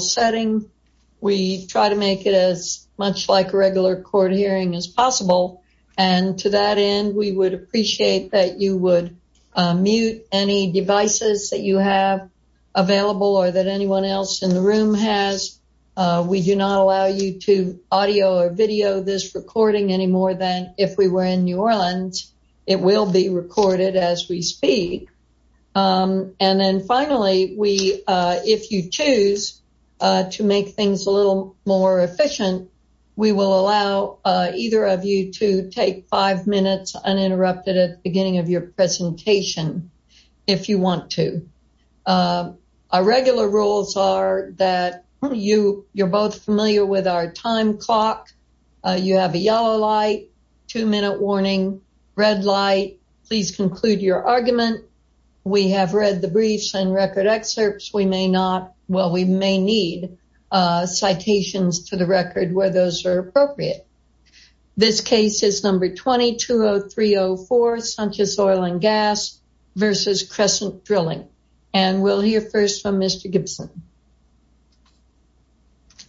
setting, we try to make it as much like a regular court hearing as possible. And to that end, we would appreciate that you would mute any devices that you have available or that anyone else in the room has. We do not allow you to audio or video this recording any more than if we were in New Orleans. It will be recorded as we speak. And then finally, if you choose to make things a little more efficient, we will allow either of you to take five minutes uninterrupted at the beginning of your presentation if you want to. Our regular rules are that you're both familiar with our time clock. You have a yellow light, two minute warning, red light. Please conclude your argument. We have read the briefs and record excerpts. We may not, well, we may need citations to the record where those are appropriate. This case is number 220304, Sanchez Oil & Gas v. Crescent Drlng. And we'll hear first from Mr. Gibson.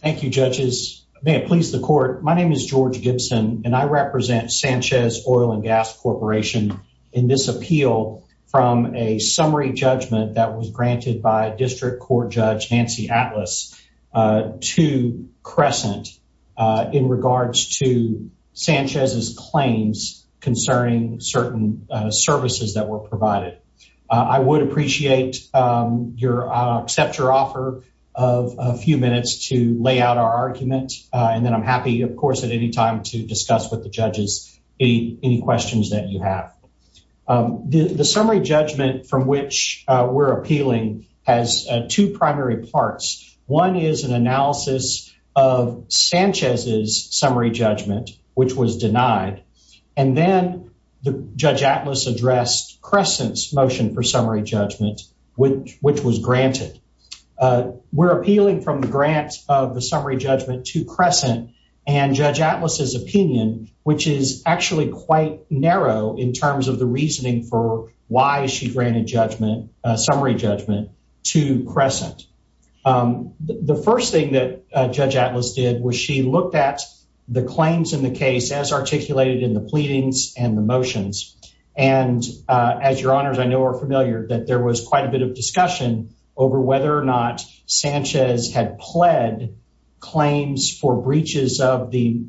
Thank you, judges. May it please the court. My name is George Gibson and I represent Sanchez Oil & Gas Corporation in this appeal from a summary judgment that was granted by District Court Judge Nancy Atlas to Crescent in regards to Sanchez's claims concerning certain services that were provided. I would appreciate your accept your offer of a few minutes to lay out our argument. And then I'm happy, of course, at any time to discuss with the judges any questions that you have. The summary judgment from which we're appealing has two primary parts. One is an Crescent's motion for summary judgment, which was granted. We're appealing from the grant of the summary judgment to Crescent and Judge Atlas's opinion, which is actually quite narrow in terms of the reasoning for why she granted a summary judgment to Crescent. The first thing that Judge Atlas did was she looked at the claims in the case as articulated in the pleadings and the as your honors I know are familiar that there was quite a bit of discussion over whether or not Sanchez had pled claims for breaches of the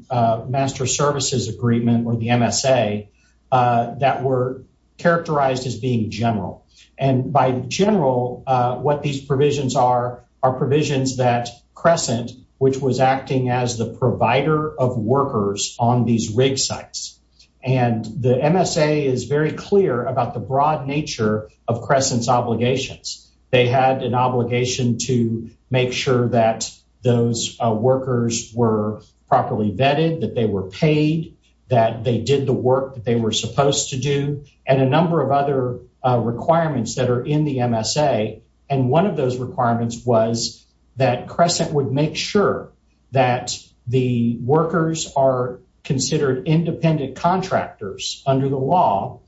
Master Services Agreement or the MSA that were characterized as being general. And by general, what these provisions are, are provisions that Crescent, which was acting as the provider of workers on these rig sites. And the MSA is very clear about the broad nature of Crescent's obligations. They had an obligation to make sure that those workers were properly vetted, that they were paid, that they did the work that they were supposed to do, and a number of other requirements that are in the MSA. And one of those requirements was that Crescent would make sure that the workers are considered independent contractors under the law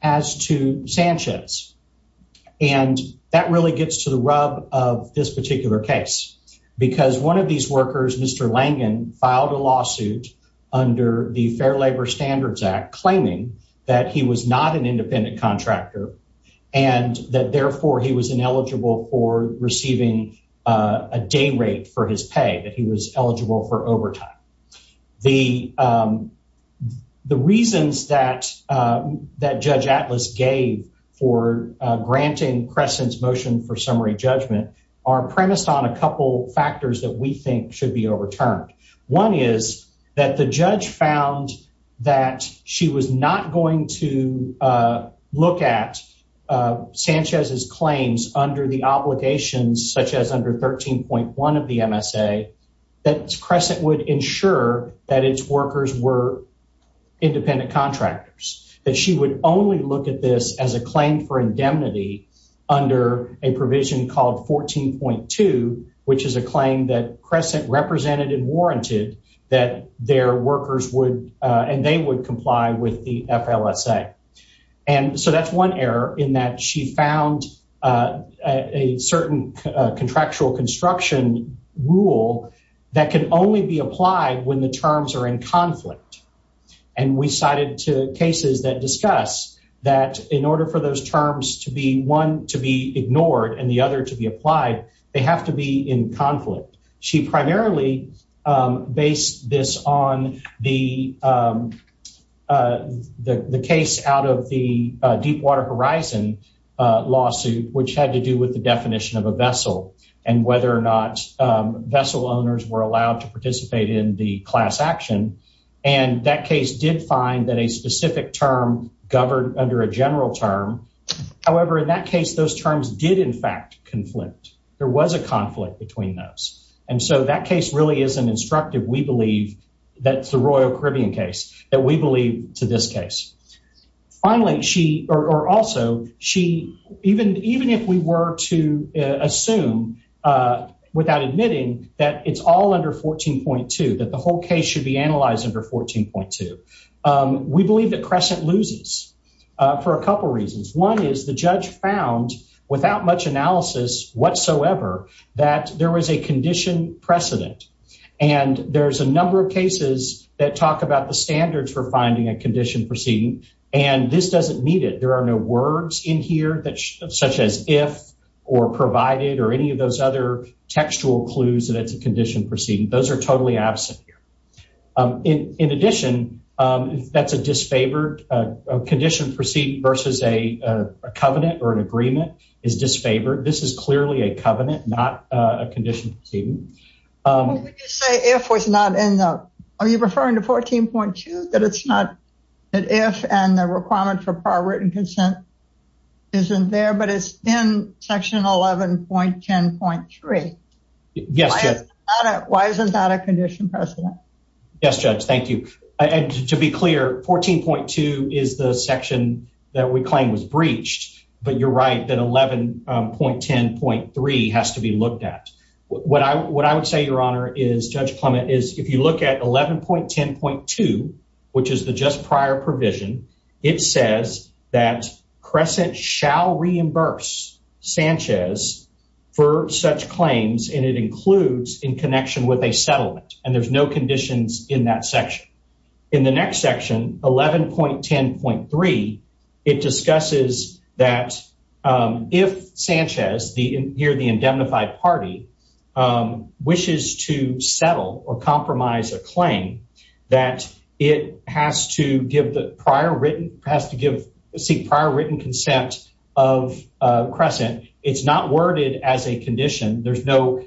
as to Sanchez. And that really gets to the rub of this particular case, because one of these workers, Mr. Langen, filed a lawsuit under the Fair Labor Standards Act claiming that he was not an independent contractor and that therefore he was ineligible for receiving a day rate for his pay, that he was eligible for overtime. The reasons that Judge Atlas gave for granting Crescent's motion for summary judgment are premised on a couple factors that we think should be overturned. One is that the judge found that she was not going to look at Sanchez's claims under the obligations, such as under 13.1 of the MSA, that Crescent would ensure that its workers were independent contractors, that she would only look at this as a claim for indemnity under a provision called 14.2, which is a claim that Crescent represented and warranted that their workers would, and they would comply with the FLSA. And so that's one error in that she found a certain contractual construction rule that can only be applied when the terms are in conflict. And we cited two cases that discuss that in order for those terms to be, one to be ignored and the other to be applied, they have to be in conflict. She primarily based this on the case out of the Deepwater Horizon lawsuit, which had to do with the definition of a vessel and whether or not vessel owners were allowed to participate in the class action. And that case did find that a specific term governed under a general term. However, in that case, those terms did in fact conflict. There was a conflict between those. And so that case really is an instructive, we believe, that's the Royal Caribbean case that we believe to this case. Finally, she, or also she, even if we were to assume without admitting that it's all under 14.2, that the whole case should be analyzed under 14.2, we believe that Crescent loses for a couple of reasons. One is the judge found without much analysis whatsoever, that there was a condition precedent. And there's a number of cases that talk about the standards for finding a condition proceeding. And this doesn't meet it. There are no words in here that, such as if, or provided, or any of those other textual clues that it's a condition proceeding. Those are totally absent here. In addition, that's a disfavored condition proceeding versus a covenant or an agreement is disfavored. This is clearly a covenant, not a condition proceeding. Well, would you say if was not in the, are you referring to 14.2, that it's not, that if and the requirement for par written consent isn't there, but it's in section 11.10.3? Yes, Judge. Why is that a condition precedent? Yes, Judge, thank you. And to be clear, 14.2 is the section that we claim was breached, but you're right that 11.10.3 has to be looked at. What I would say, Your Honor, is Judge Clement, is if you look at 11.10.2, which is the just prior provision, it says that Crescent shall reimburse Sanchez for such claims, and it includes in connection with a settlement. And there's conditions in that section. In the next section, 11.10.3, it discusses that if Sanchez, here the indemnified party, wishes to settle or compromise a claim, that it has to give the prior written, has to give prior written consent of Crescent. It's not worded as a condition. There's no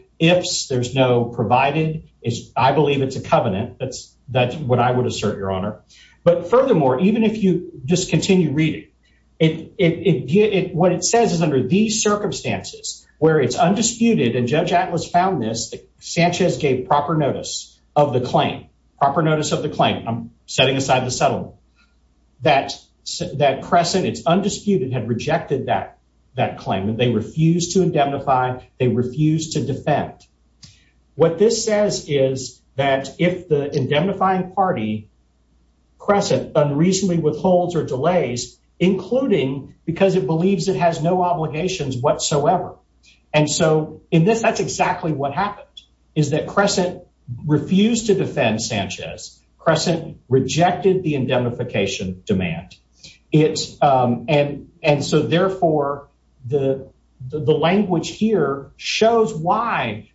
provided. I believe it's a covenant. That's what I would assert, Your Honor. But furthermore, even if you just continue reading, what it says is under these circumstances, where it's undisputed, and Judge Atlas found this, that Sanchez gave proper notice of the claim. Proper notice of the claim. I'm setting aside the settlement. That Crescent, it's undisputed, had rejected that claim. They refused to indemnify. They refused to defend. What this says is that if the indemnifying party, Crescent, unreasonably withholds or delays, including because it believes it has no obligations whatsoever. And so in this, that's exactly what happened, is that Crescent refused to defend Sanchez. Crescent rejected the indemnification demand. And so therefore, the language here shows why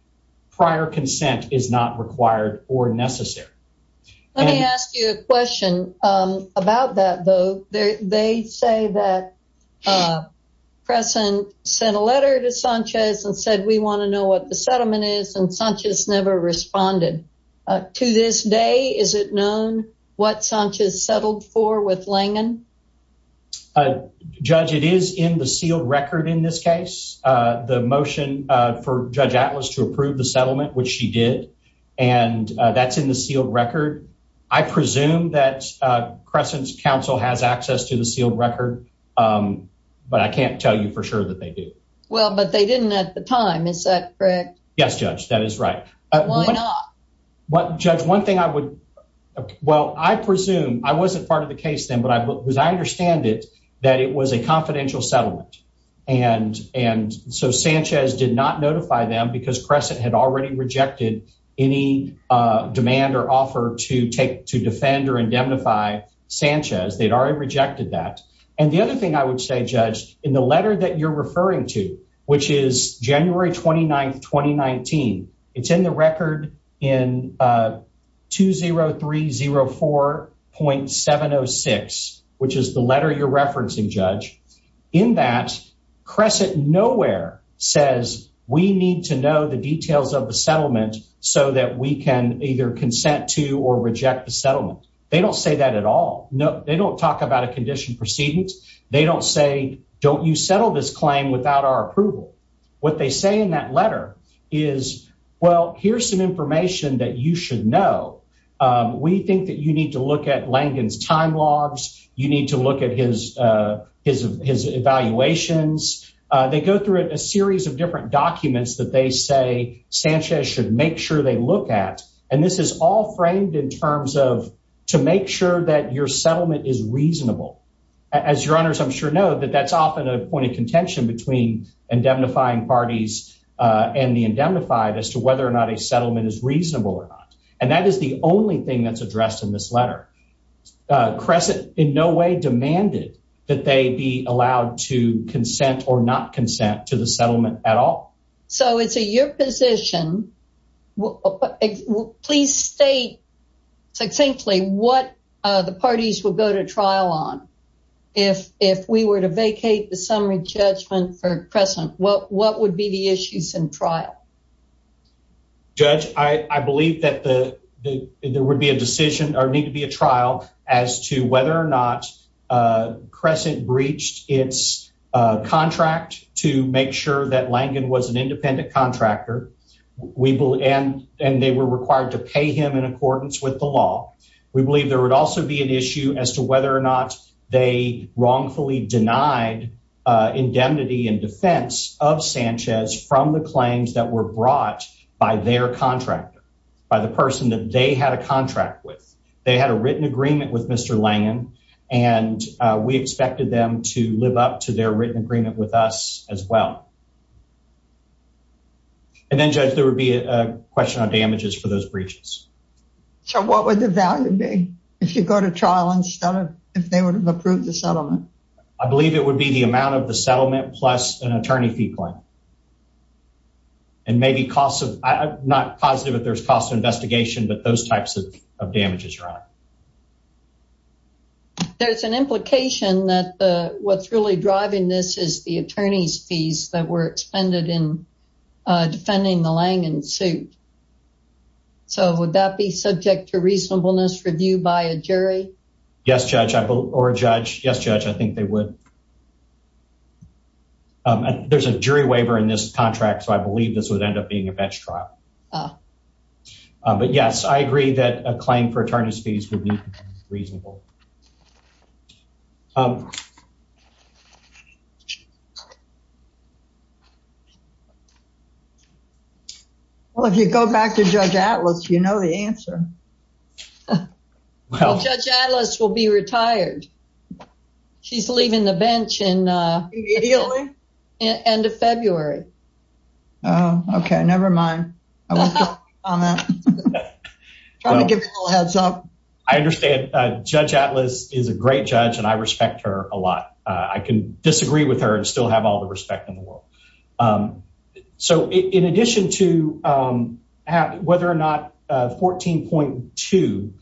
prior consent is not required or necessary. Let me ask you a question about that, though. They say that Crescent sent a letter to Sanchez and said, we want to know what the settlement is, and Sanchez never responded. To this day, is it known what Sanchez settled for with Langen? Judge, it is in the sealed record in this case. The motion for Judge Atlas to approve the settlement, which she did, and that's in the sealed record. I presume that Crescent's counsel has access to the sealed record, but I can't tell you for sure that they do. Well, but they didn't at the time. Is that correct? Yes, Judge, that is right. Why not? Judge, one thing I would, well, I presume, I wasn't part of the case then, but I understand it, that it was a confidential settlement. And so Sanchez did not notify them because Crescent had already rejected any demand or offer to defend or indemnify Sanchez. They'd already rejected that. And the other thing I would say, Judge, in the letter that you're referring to, which is January 29th, 2019, it's in the record in 20304.706, which is the letter you're referencing, Judge. In that, Crescent nowhere says, we need to know the details of the settlement so that we can either consent to or reject the settlement. They don't say that at all. They don't talk about a What they say in that letter is, well, here's some information that you should know. We think that you need to look at Langan's time logs. You need to look at his evaluations. They go through a series of different documents that they say Sanchez should make sure they look at. And this is all framed in terms of to make sure that your settlement is reasonable. As your honors, I'm sure know that that's often a point of contention between indemnifying parties and the indemnified as to whether or not a settlement is reasonable or not. And that is the only thing that's addressed in this letter. Crescent in no way demanded that they be allowed to consent or not consent to the settlement at all. So it's a your position. Please state succinctly what the parties will go to trial on. If we were to vacate the summary judgment for Crescent, what would be the issues in trial? Judge, I believe that there would be a decision or need to be a trial as to whether or not Crescent breached its contract to make sure that Langan was an independent contractor. And they were required to pay him in accordance with the law. We believe there would also be an issue as to whether or not they wrongfully denied indemnity in defense of Sanchez from the claims that were brought by their contractor, by the person that they had a contract with. They had a written agreement with Mr. Langan, and we expected them to live up to their written agreement with us as well. And then, Judge, there would be a question on damages for those breaches. So what would the value be if you go to trial instead of if they would have approved the settlement? I believe it would be the amount of the settlement plus an attorney fee plan. And maybe cost of, I'm not positive if there's cost of investigation, but those types of damages. There's an implication that what's really driving this is the attorney's fees that were expended in defending the Langan suit. So would that be subject to reasonableness review by a jury? Yes, Judge, or a judge. Yes, Judge, I think they would. And there's a jury waiver in this contract, so I believe this would end up being a bench trial. But yes, I agree that a claim for attorney's fees would be reasonable. Well, if you go back to Judge Atlas, you know the answer. Well, Judge Atlas will be retired. She's leaving the bench in the end of February. Oh, okay, never mind. I want to give a little heads up. I understand Judge Atlas is a great judge and I respect her a lot. I can disagree with her and have all the respect in the world. So in addition to whether or not 14.2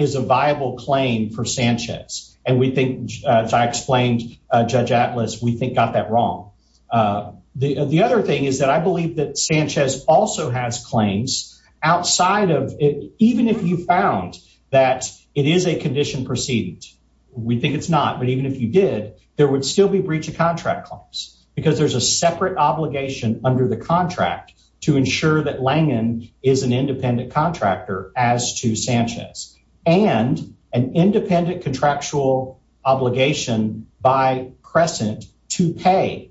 is a viable claim for Sanchez, and we think, as I explained, Judge Atlas, we think got that wrong. The other thing is that I believe that Sanchez also has claims outside of it, even if you found that it is a condition proceeding. We think it's not, but even if you did, there would still be breach of contract claims because there's a separate obligation under the contract to ensure that Langen is an independent contractor as to Sanchez and an independent contractual obligation by Crescent to pay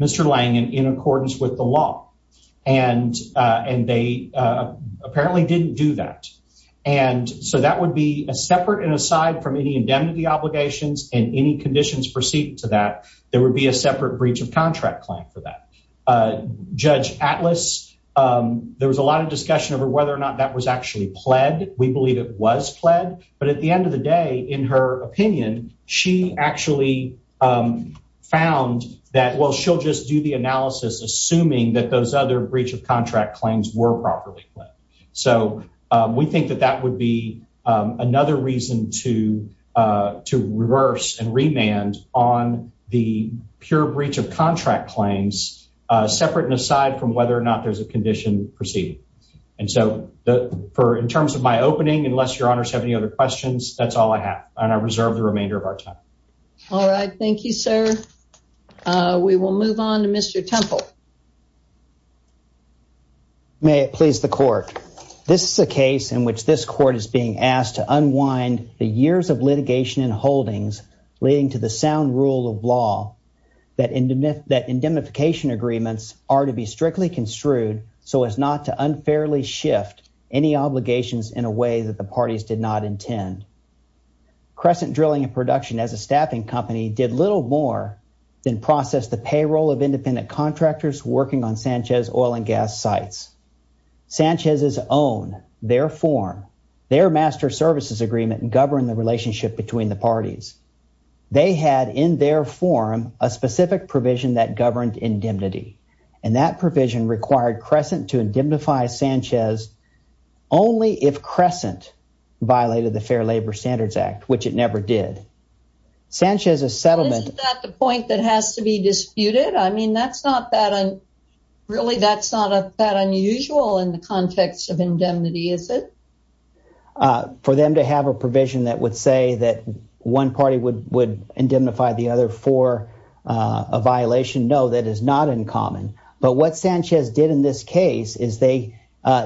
Mr. Langen in accordance with the law. And they apparently didn't do that. And so that would be a separate and aside from any indemnity obligations and any conditions proceeding to that, there would be a separate breach of contract claim for that. Judge Atlas, there was a lot of discussion over whether or not that was actually pled. We believe it was pled, but at the end of the day, in her opinion, she actually found that, well, she'll just do analysis assuming that those other breach of contract claims were properly pled. So we think that that would be another reason to reverse and remand on the pure breach of contract claims, separate and aside from whether or not there's a condition proceeding. And so in terms of my opening, unless your honors have any other questions, that's all I have, and I reserve the remainder of our time. All right. Thank you, sir. We will move on to Mr. Temple. May it please the court. This is a case in which this court is being asked to unwind the years of litigation and holdings leading to the sound rule of law that indemnification agreements are to be strictly construed so as not to unfairly shift any obligations in a way that the parties did not intend. Crescent Drilling and Production, as a staffing company, did little more than process the payroll of independent contractors working on Sanchez oil and gas sites. Sanchez's own, their form, their master services agreement governed the relationship between the parties. They had in their form a specific provision that governed to indemnify Sanchez only if Crescent violated the Fair Labor Standards Act, which it never did. Sanchez's settlement... Isn't that the point that has to be disputed? I mean, that's not that really, that's not that unusual in the context of indemnity, is it? For them to have a provision that would say that one party would indemnify the other for a violation, no, that is not uncommon. But what Sanchez did in this case is they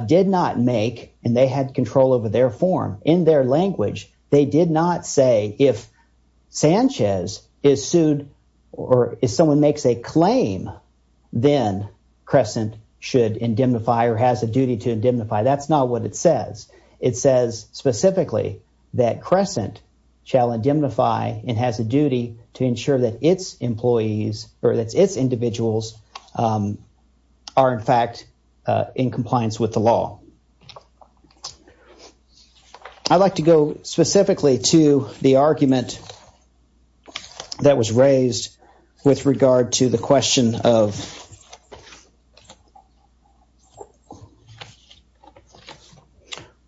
did not make, and they had control over their form, in their language, they did not say if Sanchez is sued or if someone makes a claim, then Crescent should indemnify or has a duty to indemnify. That's not what it says. It says specifically that Crescent shall indemnify and has a duty to ensure that its employees or its individuals are, in fact, in compliance with the law. I'd like to go specifically to the argument that was raised with regard to the question of...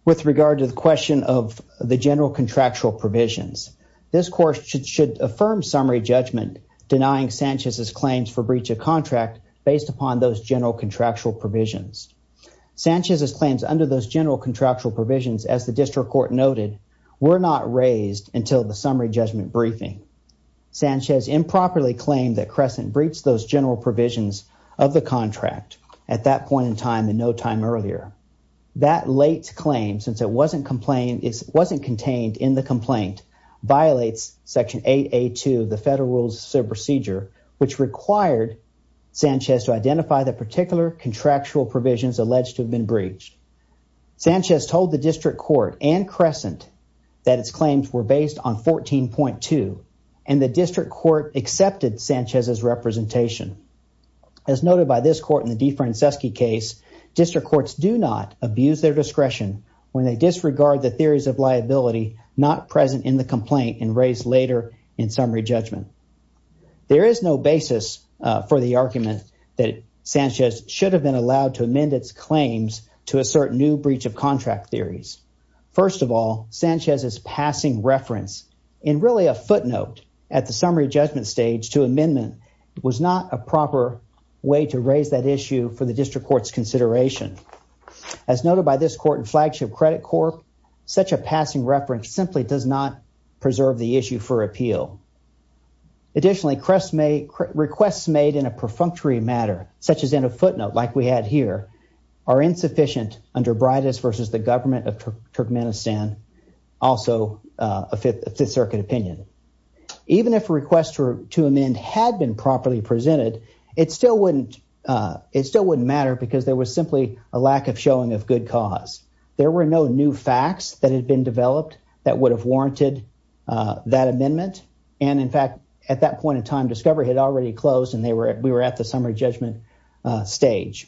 with regard to the question of the general contractual provisions. This court should affirm summary judgment denying Sanchez's claims for breach of contract based upon those general contractual provisions. Sanchez's claims under those general contractual provisions, as the district court noted, were not raised until the summary judgment briefing. Sanchez improperly claimed that Crescent breached those general provisions of the contract at that point in time and no time earlier. That late claim, since it wasn't contained in the complaint, violates Section 8A2 of the Federal Rules of Procedure, which required Sanchez to identify the particular contractual provisions alleged to have been breached. Sanchez told the district court and Crescent that its claims were based on 14.2, and the district court accepted Sanchez's representation. As noted by this court in the DeFranceschi case, district courts do not abuse their discretion when they disregard the theories of liability not present in the complaint and raised later in summary judgment. There is no basis for the argument that Sanchez should have been allowed to amend its claims to assert new breach of contract theories. First of all, Sanchez's passing reference in really a footnote at the summary judgment stage to amendment was not a flagship credit court. Such a passing reference simply does not preserve the issue for appeal. Additionally, requests made in a perfunctory matter, such as in a footnote like we had here, are insufficient under Bridis versus the government of Turkmenistan, also a Fifth Circuit opinion. Even if a request to amend had been properly presented, it still wouldn't matter because there was simply a lack of showing of good cause. There were no new facts that had been developed that would have warranted that amendment, and in fact, at that point in time, discovery had already closed and we were at the summary judgment stage.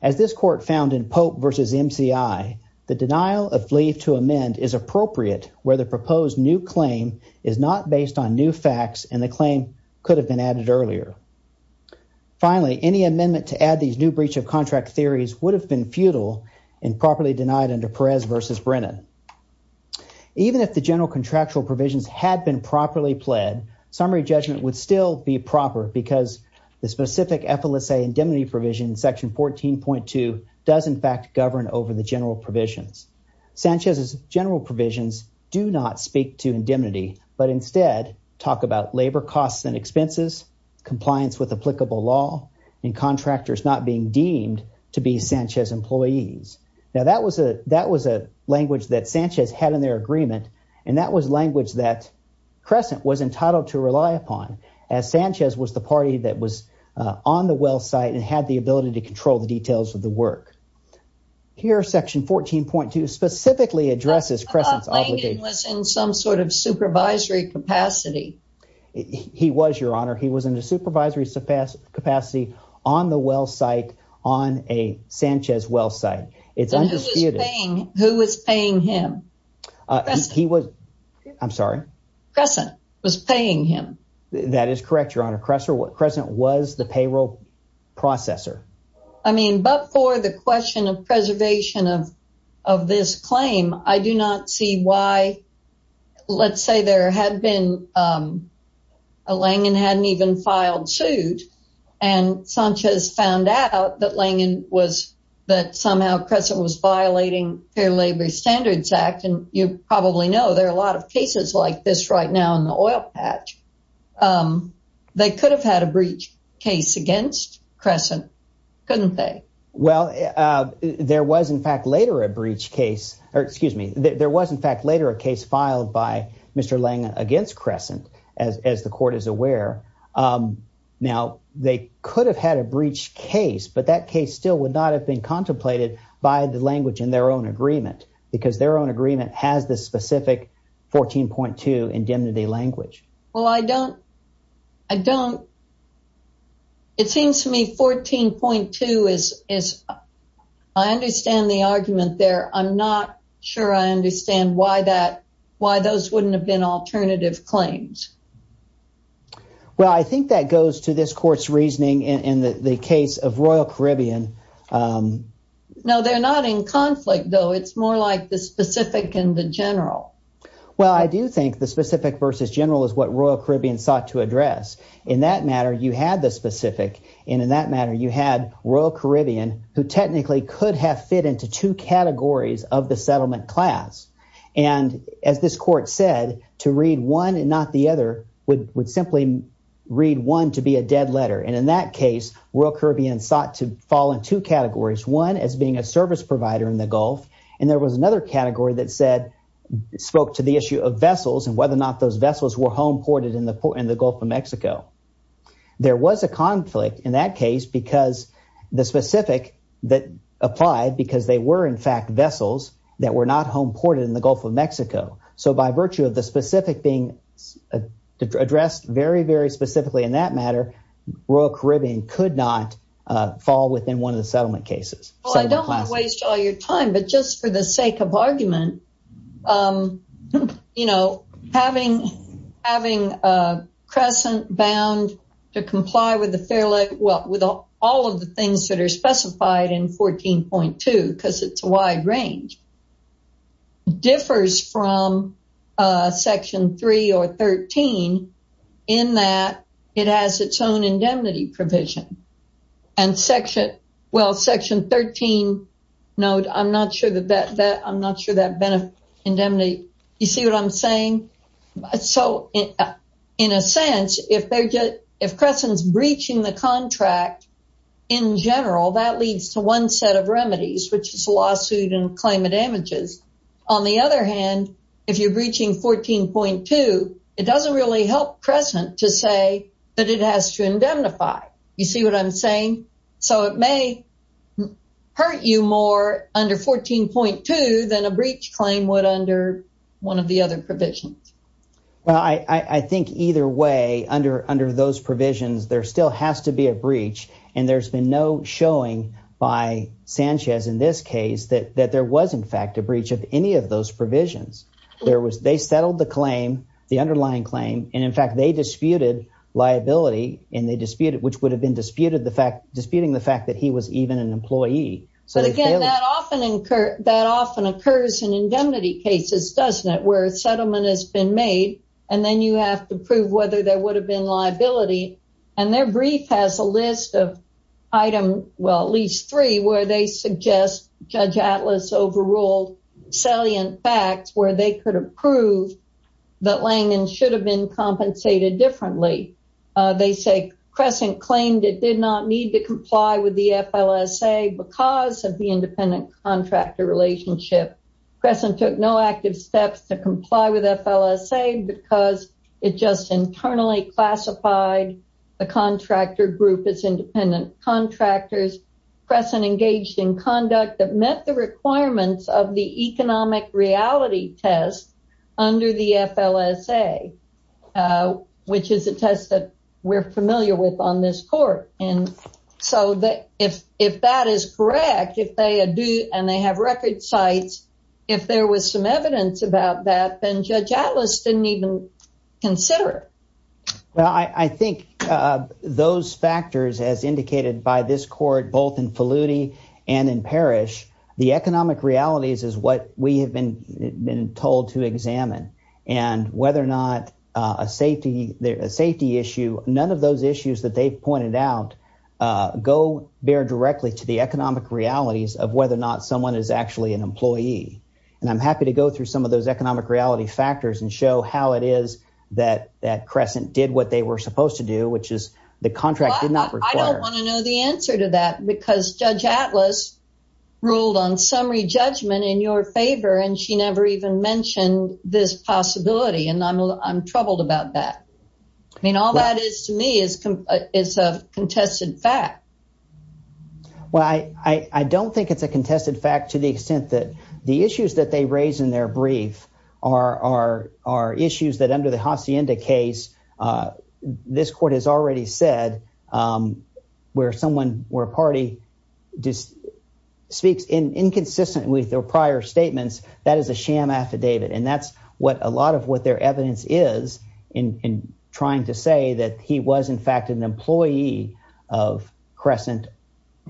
As this court found in Pope versus MCI, the denial of leave to amend is appropriate where the proposed new claim is not based on new facts and the claim could have been added earlier. Finally, any amendment to add these new breach of contract theories would have been futile and properly denied under Perez versus Brennan. Even if the general contractual provisions had been properly pled, summary judgment would still be proper because the specific effelice indemnity provision in section 14.2 does in fact govern over the general provisions. Sanchez's general provisions do not speak to indemnity, but instead talk about labor costs and expenses, compliance with applicable law, and contractors not being deemed to be Sanchez employees. Now, that was a language that Sanchez had in their agreement, and that was language that Crescent was entitled to rely upon as Sanchez was the party that was on the well site and had the ability to control the details of the work. Here, section 14.2 specifically addresses Crescent's obligation. I thought Langdon was in some sort of supervisory capacity. He was, Your Honor. He was in a supervisory capacity on the well site, on a Sanchez well site. It's undisputed. Who was paying him? Crescent was paying him. That is correct, Your Honor. Crescent was the payroll processor. I mean, but for the question of preservation of this claim, I do not see why, let's say, Langdon hadn't even filed suit, and Sanchez found out that somehow Crescent was violating Fair Labor Standards Act, and you probably know there are a lot of cases like this right now in the oil patch. They could have had a breach case against Crescent, couldn't they? Well, there was in fact later a breach case, or excuse me, there was in fact later a case filed by Mr. Langdon against Crescent, as the court is aware. Now, they could have had a breach case, but that case still would not have been contemplated by the language in their own Well, I don't, I don't, it seems to me 14.2 is, I understand the argument there. I'm not sure I understand why that, why those wouldn't have been alternative claims. Well, I think that goes to this court's reasoning in the case of Royal Caribbean. No, they're not in conflict, though. It's more like the specific and the general. Well, I do think the specific versus general is what Royal Caribbean sought to address. In that matter, you had the specific, and in that matter, you had Royal Caribbean, who technically could have fit into two categories of the settlement class, and as this court said, to read one and not the other would simply read one to be a dead letter, and in that case, Royal Caribbean sought to fall in two categories, one as being a service provider in the Gulf, and there was another category that said, spoke to the issue of vessels and whether or not those vessels were home ported in the Gulf of Mexico. There was a conflict in that case because the specific that applied because they were in fact vessels that were not home ported in the Gulf of Mexico, so by virtue of the specific being addressed very, very specifically in that matter, Royal Caribbean could not fall within one of the settlement cases. Well, I don't want to waste all your time, but just for the sake of argument, having Crescent bound to comply with all of the things that are specified in 14.2, because it's a wide range, differs from Section 3 or 13 in that it has its own indemnity provision, and Section 13, I'm not sure that indemnity, you see what I'm saying? So, in a sense, if Crescent's breaching the contract in general, that leads to one set of remedies, which is a lawsuit and claim of damages. On the other hand, if you're breaching 14.2, it doesn't really help Crescent to say that it has to indemnify. You see what I'm saying? So, it may hurt you more under 14.2 than a breach claim would under one of the other provisions. Well, I think either way, under those provisions, there still has to be a breach, and there's been no showing by Sanchez in this case that there was in fact a breach of any of those provisions. They settled the claim, the underlying claim, and in fact, they disputed liability, which would have been disputing the fact that he was even an employee. But again, that often occurs in indemnity cases, doesn't it? Where a settlement has been made, and then you have to prove whether there would have been liability, and their brief has a list of well, at least three, where they suggest Judge Atlas overruled salient facts where they could have proved that Langdon should have been compensated differently. They say Crescent claimed it did not need to comply with the FLSA because of the independent contractor relationship. Crescent took no active steps to comply with FLSA because it just internally classified the contractor group as independent contractors. Crescent engaged in conduct that met the requirements of the economic reality test under the FLSA, which is a test that we're familiar with on this court. And so if that is correct, and they have record sites, if there was some evidence about that, then Judge Atlas didn't even consider it. Well, I think those factors, as indicated by this court, both in Falluti and in Parrish, the economic realities is what we have been told to examine. And whether or not a safety issue, none of those issues that they've pointed out, go bear directly to the economic realities of whether or not someone is actually an employee. And I'm happy to go through some of those economic reality factors and show how it is that Crescent did what they were supposed to do, which is the contract did not require. I don't want to know the answer to that, because Judge Atlas ruled on summary judgment in your favor, and she never even mentioned this possibility. And I'm troubled about that. I mean, all that is to me is a contested fact. Well, I don't think it's a contested fact to the extent that the issues that they raise in their brief are issues that under the Hacienda case, this court has already said, where someone, where a party speaks inconsistent with their prior statements, that is a sham affidavit. And that's what a lot of what their evidence is in trying to say that he was in fact an employee of Crescent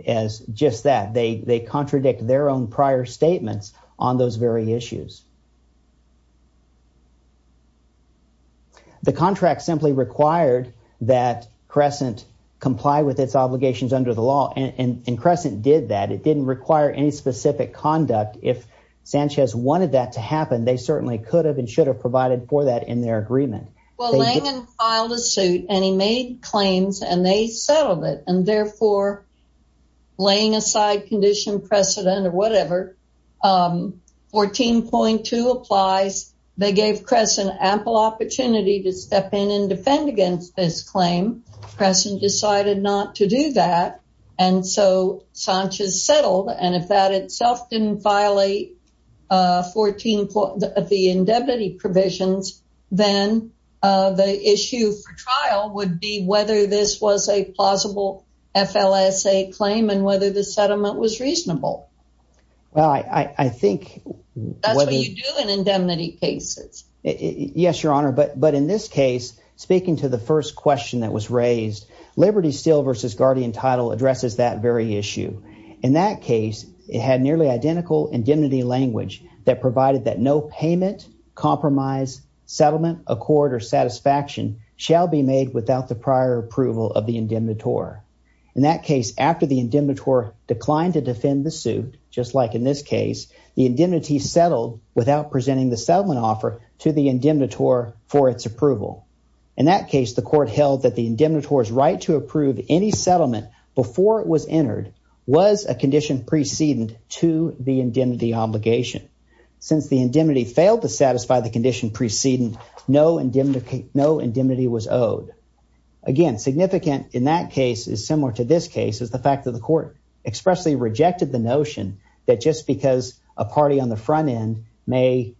as just that. They contradict their own prior statements on those very issues. The contract simply required that Crescent comply with its obligations under the law. And Crescent did that. It didn't require any specific conduct. If Sanchez wanted that to happen, they certainly could have and should have provided for that in their agreement. Well, Langen filed a suit and he made claims and they settled it. And therefore, laying aside condition precedent or whatever, 14.2 applies. They gave Crescent ample opportunity to step in and defend against this claim. Crescent decided not to do that. And so Sanchez settled. And if that itself didn't violate the indemnity provisions, then the issue for trial would be whether this was a plausible FLSA claim and whether the settlement was reasonable. Well, I think that's what you do in indemnity cases. Yes, Your Honor. But in this case, speaking to the first question that was raised, Liberty Steel versus Guardian Title addresses that very issue. In that case, it had nearly identical indemnity language that provided that no payment, compromise, settlement, accord, or satisfaction shall be made without the prior approval of the indemnitor. In that case, after the indemnitor declined to defend the suit, just like in this case, the indemnity settled without presenting the settlement offer to the indemnitor for its approval. In that case, the court held that the indemnitor's right to approve any settlement before it was entered was a condition preceding to the indemnity obligation. Since the indemnity failed to satisfy the condition preceding, no indemnity was owed. Again, significant in that case is similar to this case is the fact that the court expressly rejected the notion that just because a party on the front end may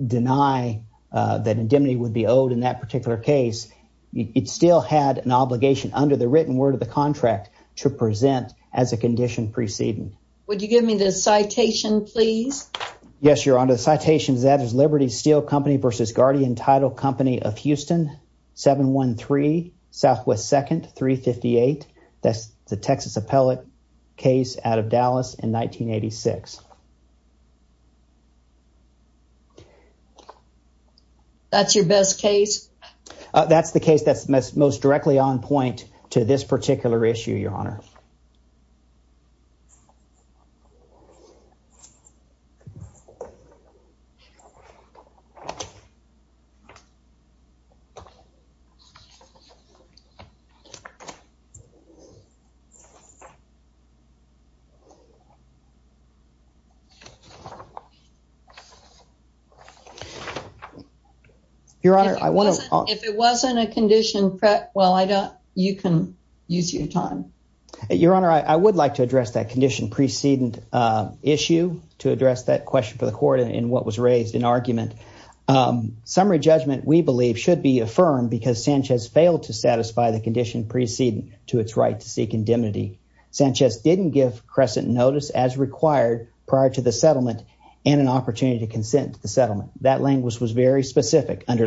deny that indemnity would be owed in that particular case, it still had an obligation under the written word of the contract to present as a condition preceding. Would you give me the citation, please? Yes, Your Honor. The citation is that of Liberty Steel Company versus Guardian Title Company of Houston, 713 Southwest 2nd, 358. That's the Texas appellate case out of Dallas in this particular issue, Your Honor. If it wasn't a condition, you can use your time. Your Honor, I would like to address that condition preceding issue to address that question for the court in what was raised in argument. Summary judgment, we believe, should be affirmed because Sanchez failed to satisfy the condition preceding to its right to seek indemnity. Sanchez didn't give Crescent notice as required prior to the settlement and an opportunity to consent to the settlement. That language was very specific. Under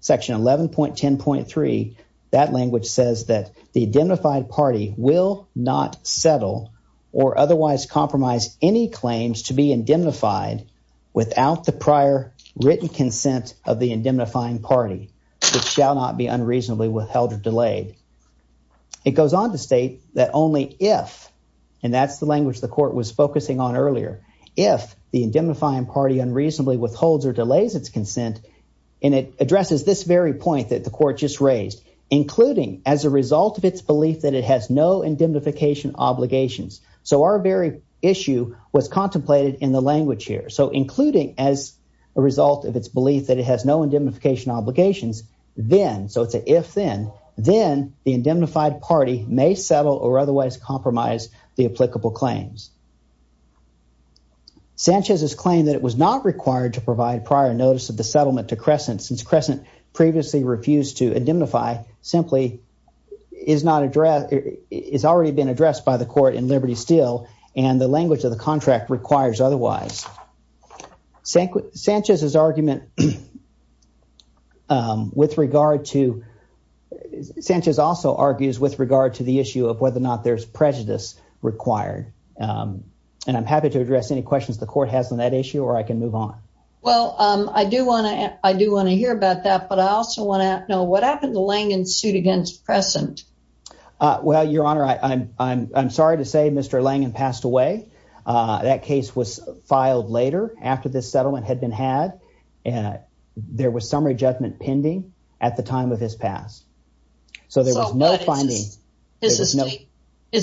Section 11.10.3, that language says that the indemnified party will not settle or otherwise compromise any claims to be indemnified without the prior written consent of the indemnifying party, which shall not be unreasonably withheld or delayed. It goes on to state that only if, and that's the language the court was focusing on earlier, if the indemnifying party unreasonably withholds or delays its consent and it addresses this very point that the court just raised, including as a result of its belief that it has no indemnification obligations. So, our very issue was contemplated in the language here. So, including as a result of its belief that it has no indemnification obligations, then, so it's an if then, then the indemnified party may settle or otherwise compromise the applicable claims. Sanchez's claim that it was not required to provide prior notice of the settlement to Crescent, since Crescent previously refused to indemnify, simply is not addressed, is already been addressed by the court in Liberty Steel and the language of the contract requires otherwise. Sanchez's argument with regard to, Sanchez also argues with regard to the issue of whether or not there's prejudice required. And I'm happy to address any questions the court has on issue or I can move on. Well, I do want to, I do want to hear about that, but I also want to know what happened to Langen's suit against Crescent? Well, your honor, I'm sorry to say Mr. Langen passed away. That case was filed later after this settlement had been had and there was some rejectment pending at the time of his pass. So, there was no finding. Is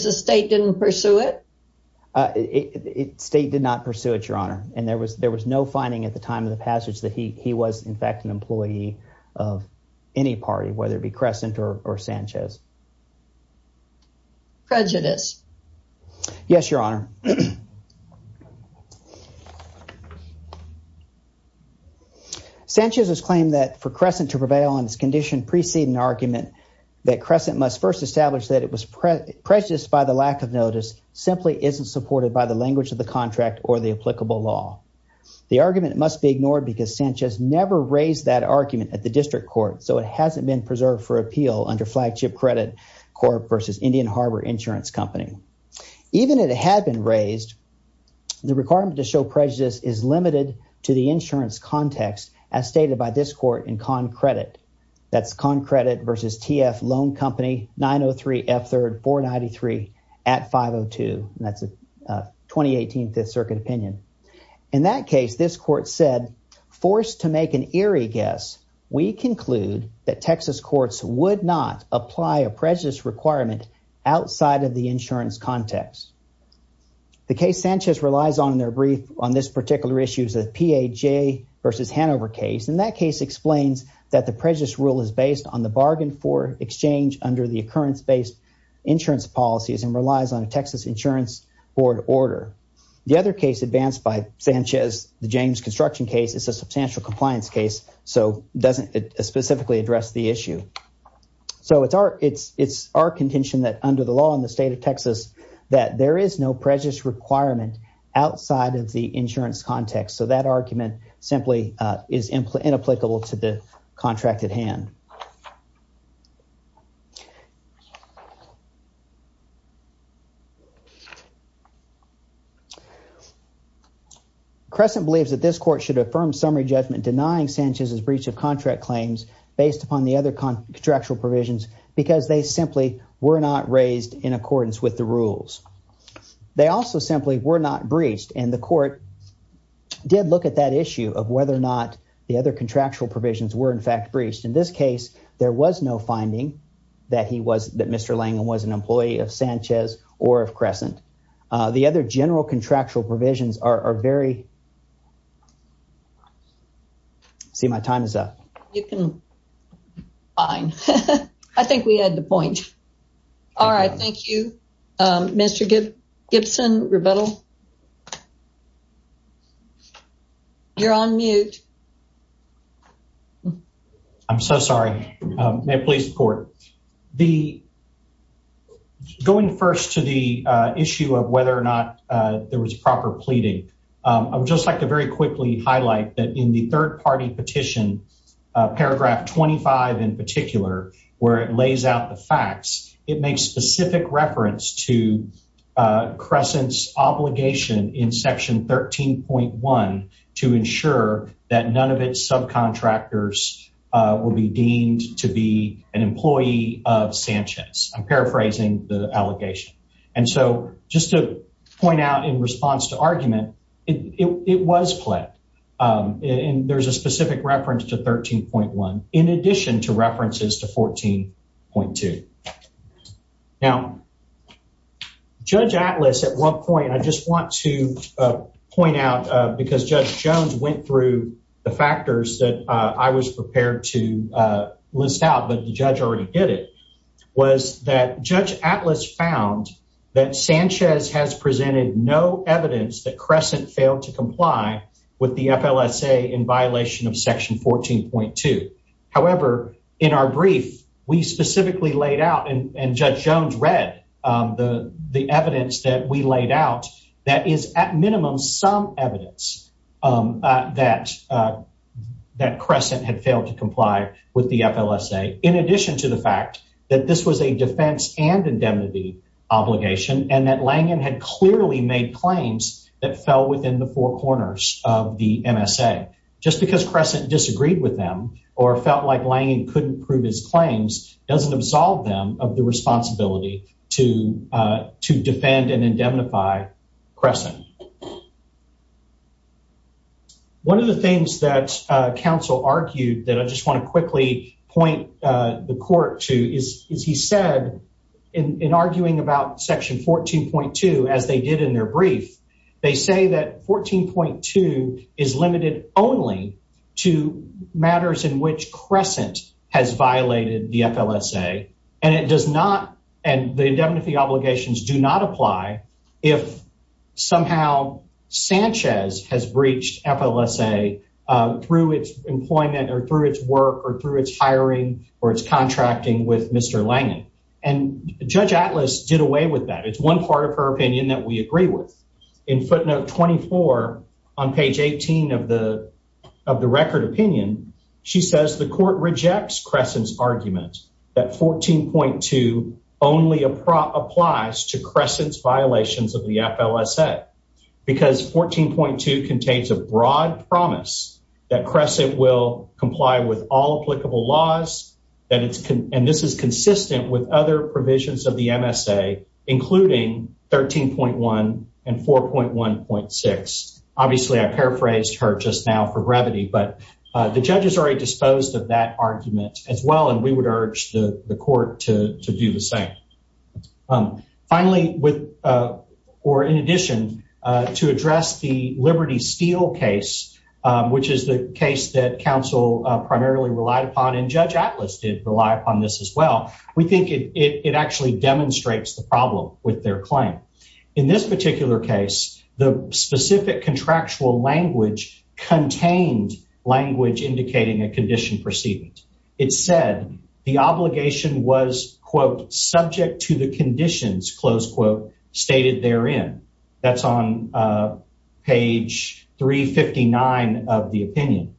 the state didn't pursue it? State did not pursue it, your honor, and there was there was no finding at the time of the passage that he was in fact an employee of any party, whether it be Crescent or Sanchez. Prejudice? Yes, your honor. Sanchez's claim that for Crescent to prevail on its condition precede an argument that Crescent must first establish that it was prejudiced by the lack of notice simply isn't supported by the language of the contract or the applicable law. The argument must be ignored because Sanchez never raised that argument at the district court. So, it hasn't been preserved for appeal under flagship credit Corp versus Indian Harbor Insurance Company. Even it had been raised, the requirement to show prejudice is limited to the insurance context as stated by this court in con credit. That's con credit versus TF Loan Company 903 F3rd 493 at 502. That's a 2018 Fifth Circuit opinion. In that case, this court said, forced to make an eerie guess, we conclude that Texas courts would not apply a prejudice requirement outside of the insurance context. The case Sanchez relies on in their brief on this particular issues of PAJ versus Hanover case. In that case explains that the prejudice rule is based on the bargain for exchange under the occurrence-based insurance policies and relies on a Texas Insurance Board order. The other case advanced by Sanchez, the James construction case, is a substantial compliance case. So, it doesn't specifically address the issue. So, it's our contention that under the law in the state of Texas, that there is no prejudice requirement outside of the insurance context. So, that argument simply is inapplicable to the contract at hand. Crescent believes that this court should affirm summary judgment denying Sanchez's breach of contract claims based upon the other contractual provisions because they simply were not raised in accordance with the rules. They also simply were not breached and the court did look at that issue of whether or not the other contractual provisions were in fact breached. In this case, there was no finding that Mr. Langham was an employee of Sanchez or of Crescent. The other general contractual provisions are very... See, my time is up. You can... Fine. I think we have Gibson. You're on mute. I'm so sorry. May I please report? Going first to the issue of whether or not there was proper pleading, I would just like to very quickly highlight that in the third party petition, paragraph 25 in particular, where it lays out the facts, it makes specific reference to Crescent's obligation in section 13.1 to ensure that none of its subcontractors will be deemed to be an employee of Sanchez. I'm paraphrasing the allegation. And so, just to point out in response to argument, it was pled. There's a specific reference to 13.1 in addition to references to 14.2. Now, Judge Atlas at one point, I just want to point out because Judge Jones went through the factors that I was prepared to list out, but the judge already did it, was that Judge Atlas found that Sanchez has presented no evidence that Crescent failed to in our brief, we specifically laid out and Judge Jones read the evidence that we laid out that is at minimum some evidence that Crescent had failed to comply with the FLSA in addition to the fact that this was a defense and indemnity obligation and that Langen had clearly made claims that fell within the four corners of the MSA. Just because Crescent disagreed with them or felt like Langen couldn't prove his claims doesn't absolve them of the responsibility to defend and indemnify Crescent. One of the things that counsel argued that I just want to quickly point the court to is he said in arguing about section 14.2 as they did in their brief, they say that 14.2 is limited only to matters in which Crescent has violated the FLSA and the indemnity obligations do not apply if somehow Sanchez has breached FLSA through its employment or through its work or through its hiring or its contracting with Mr. Langen and Judge Atlas did away with that. It's part of her opinion that we agree with. In footnote 24 on page 18 of the of the record opinion she says the court rejects Crescent's argument that 14.2 only applies to Crescent's violations of the FLSA because 14.2 contains a broad promise that Crescent will comply with all applicable laws and this is consistent with other provisions of the MSA including 13.1 and 4.1.6. Obviously I paraphrased her just now for brevity but the judge is already disposed of that argument as well and we would urge the court to do the same. Finally with or in addition to address the Liberty Steel case which is the case that counsel primarily relied upon and Judge Atlas did rely upon this as well. We think it actually demonstrates the problem with their claim. In this particular case the specific contractual language contained language indicating a condition precedent. It said the obligation was quote subject to the conditions close quote stated therein. That's on page 359 of the opinion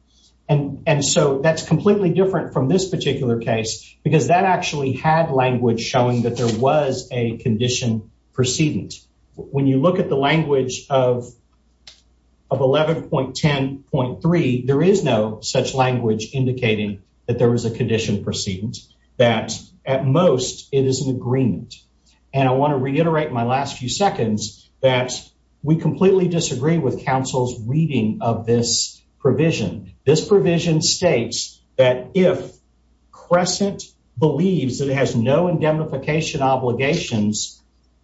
and and so that's completely different from this particular case because that actually had language showing that there was a condition precedent. When you look at the language of of 11.10.3 there is no such language indicating that there was a condition precedent. That at most it is an agreement and I want to reiterate my last few seconds that we completely disagree with counsel's reading of this provision. This provision states that if Crescent believes that it has no indemnification obligations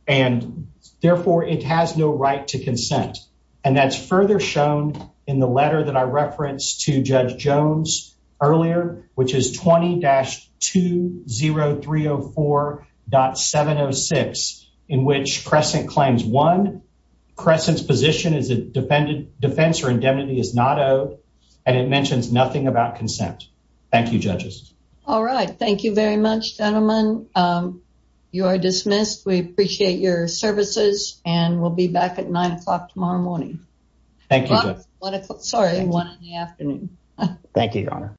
and therefore it has no right to consent and that's further shown in the letter that I referenced to Crescent claims one Crescent's position is a defendant defense or indemnity is not owed and it mentions nothing about consent. Thank you judges. All right thank you very much gentlemen. You are dismissed. We appreciate your services and we'll be back at nine o'clock tomorrow morning. Thank you. Sorry one in the afternoon. Thank you your honor.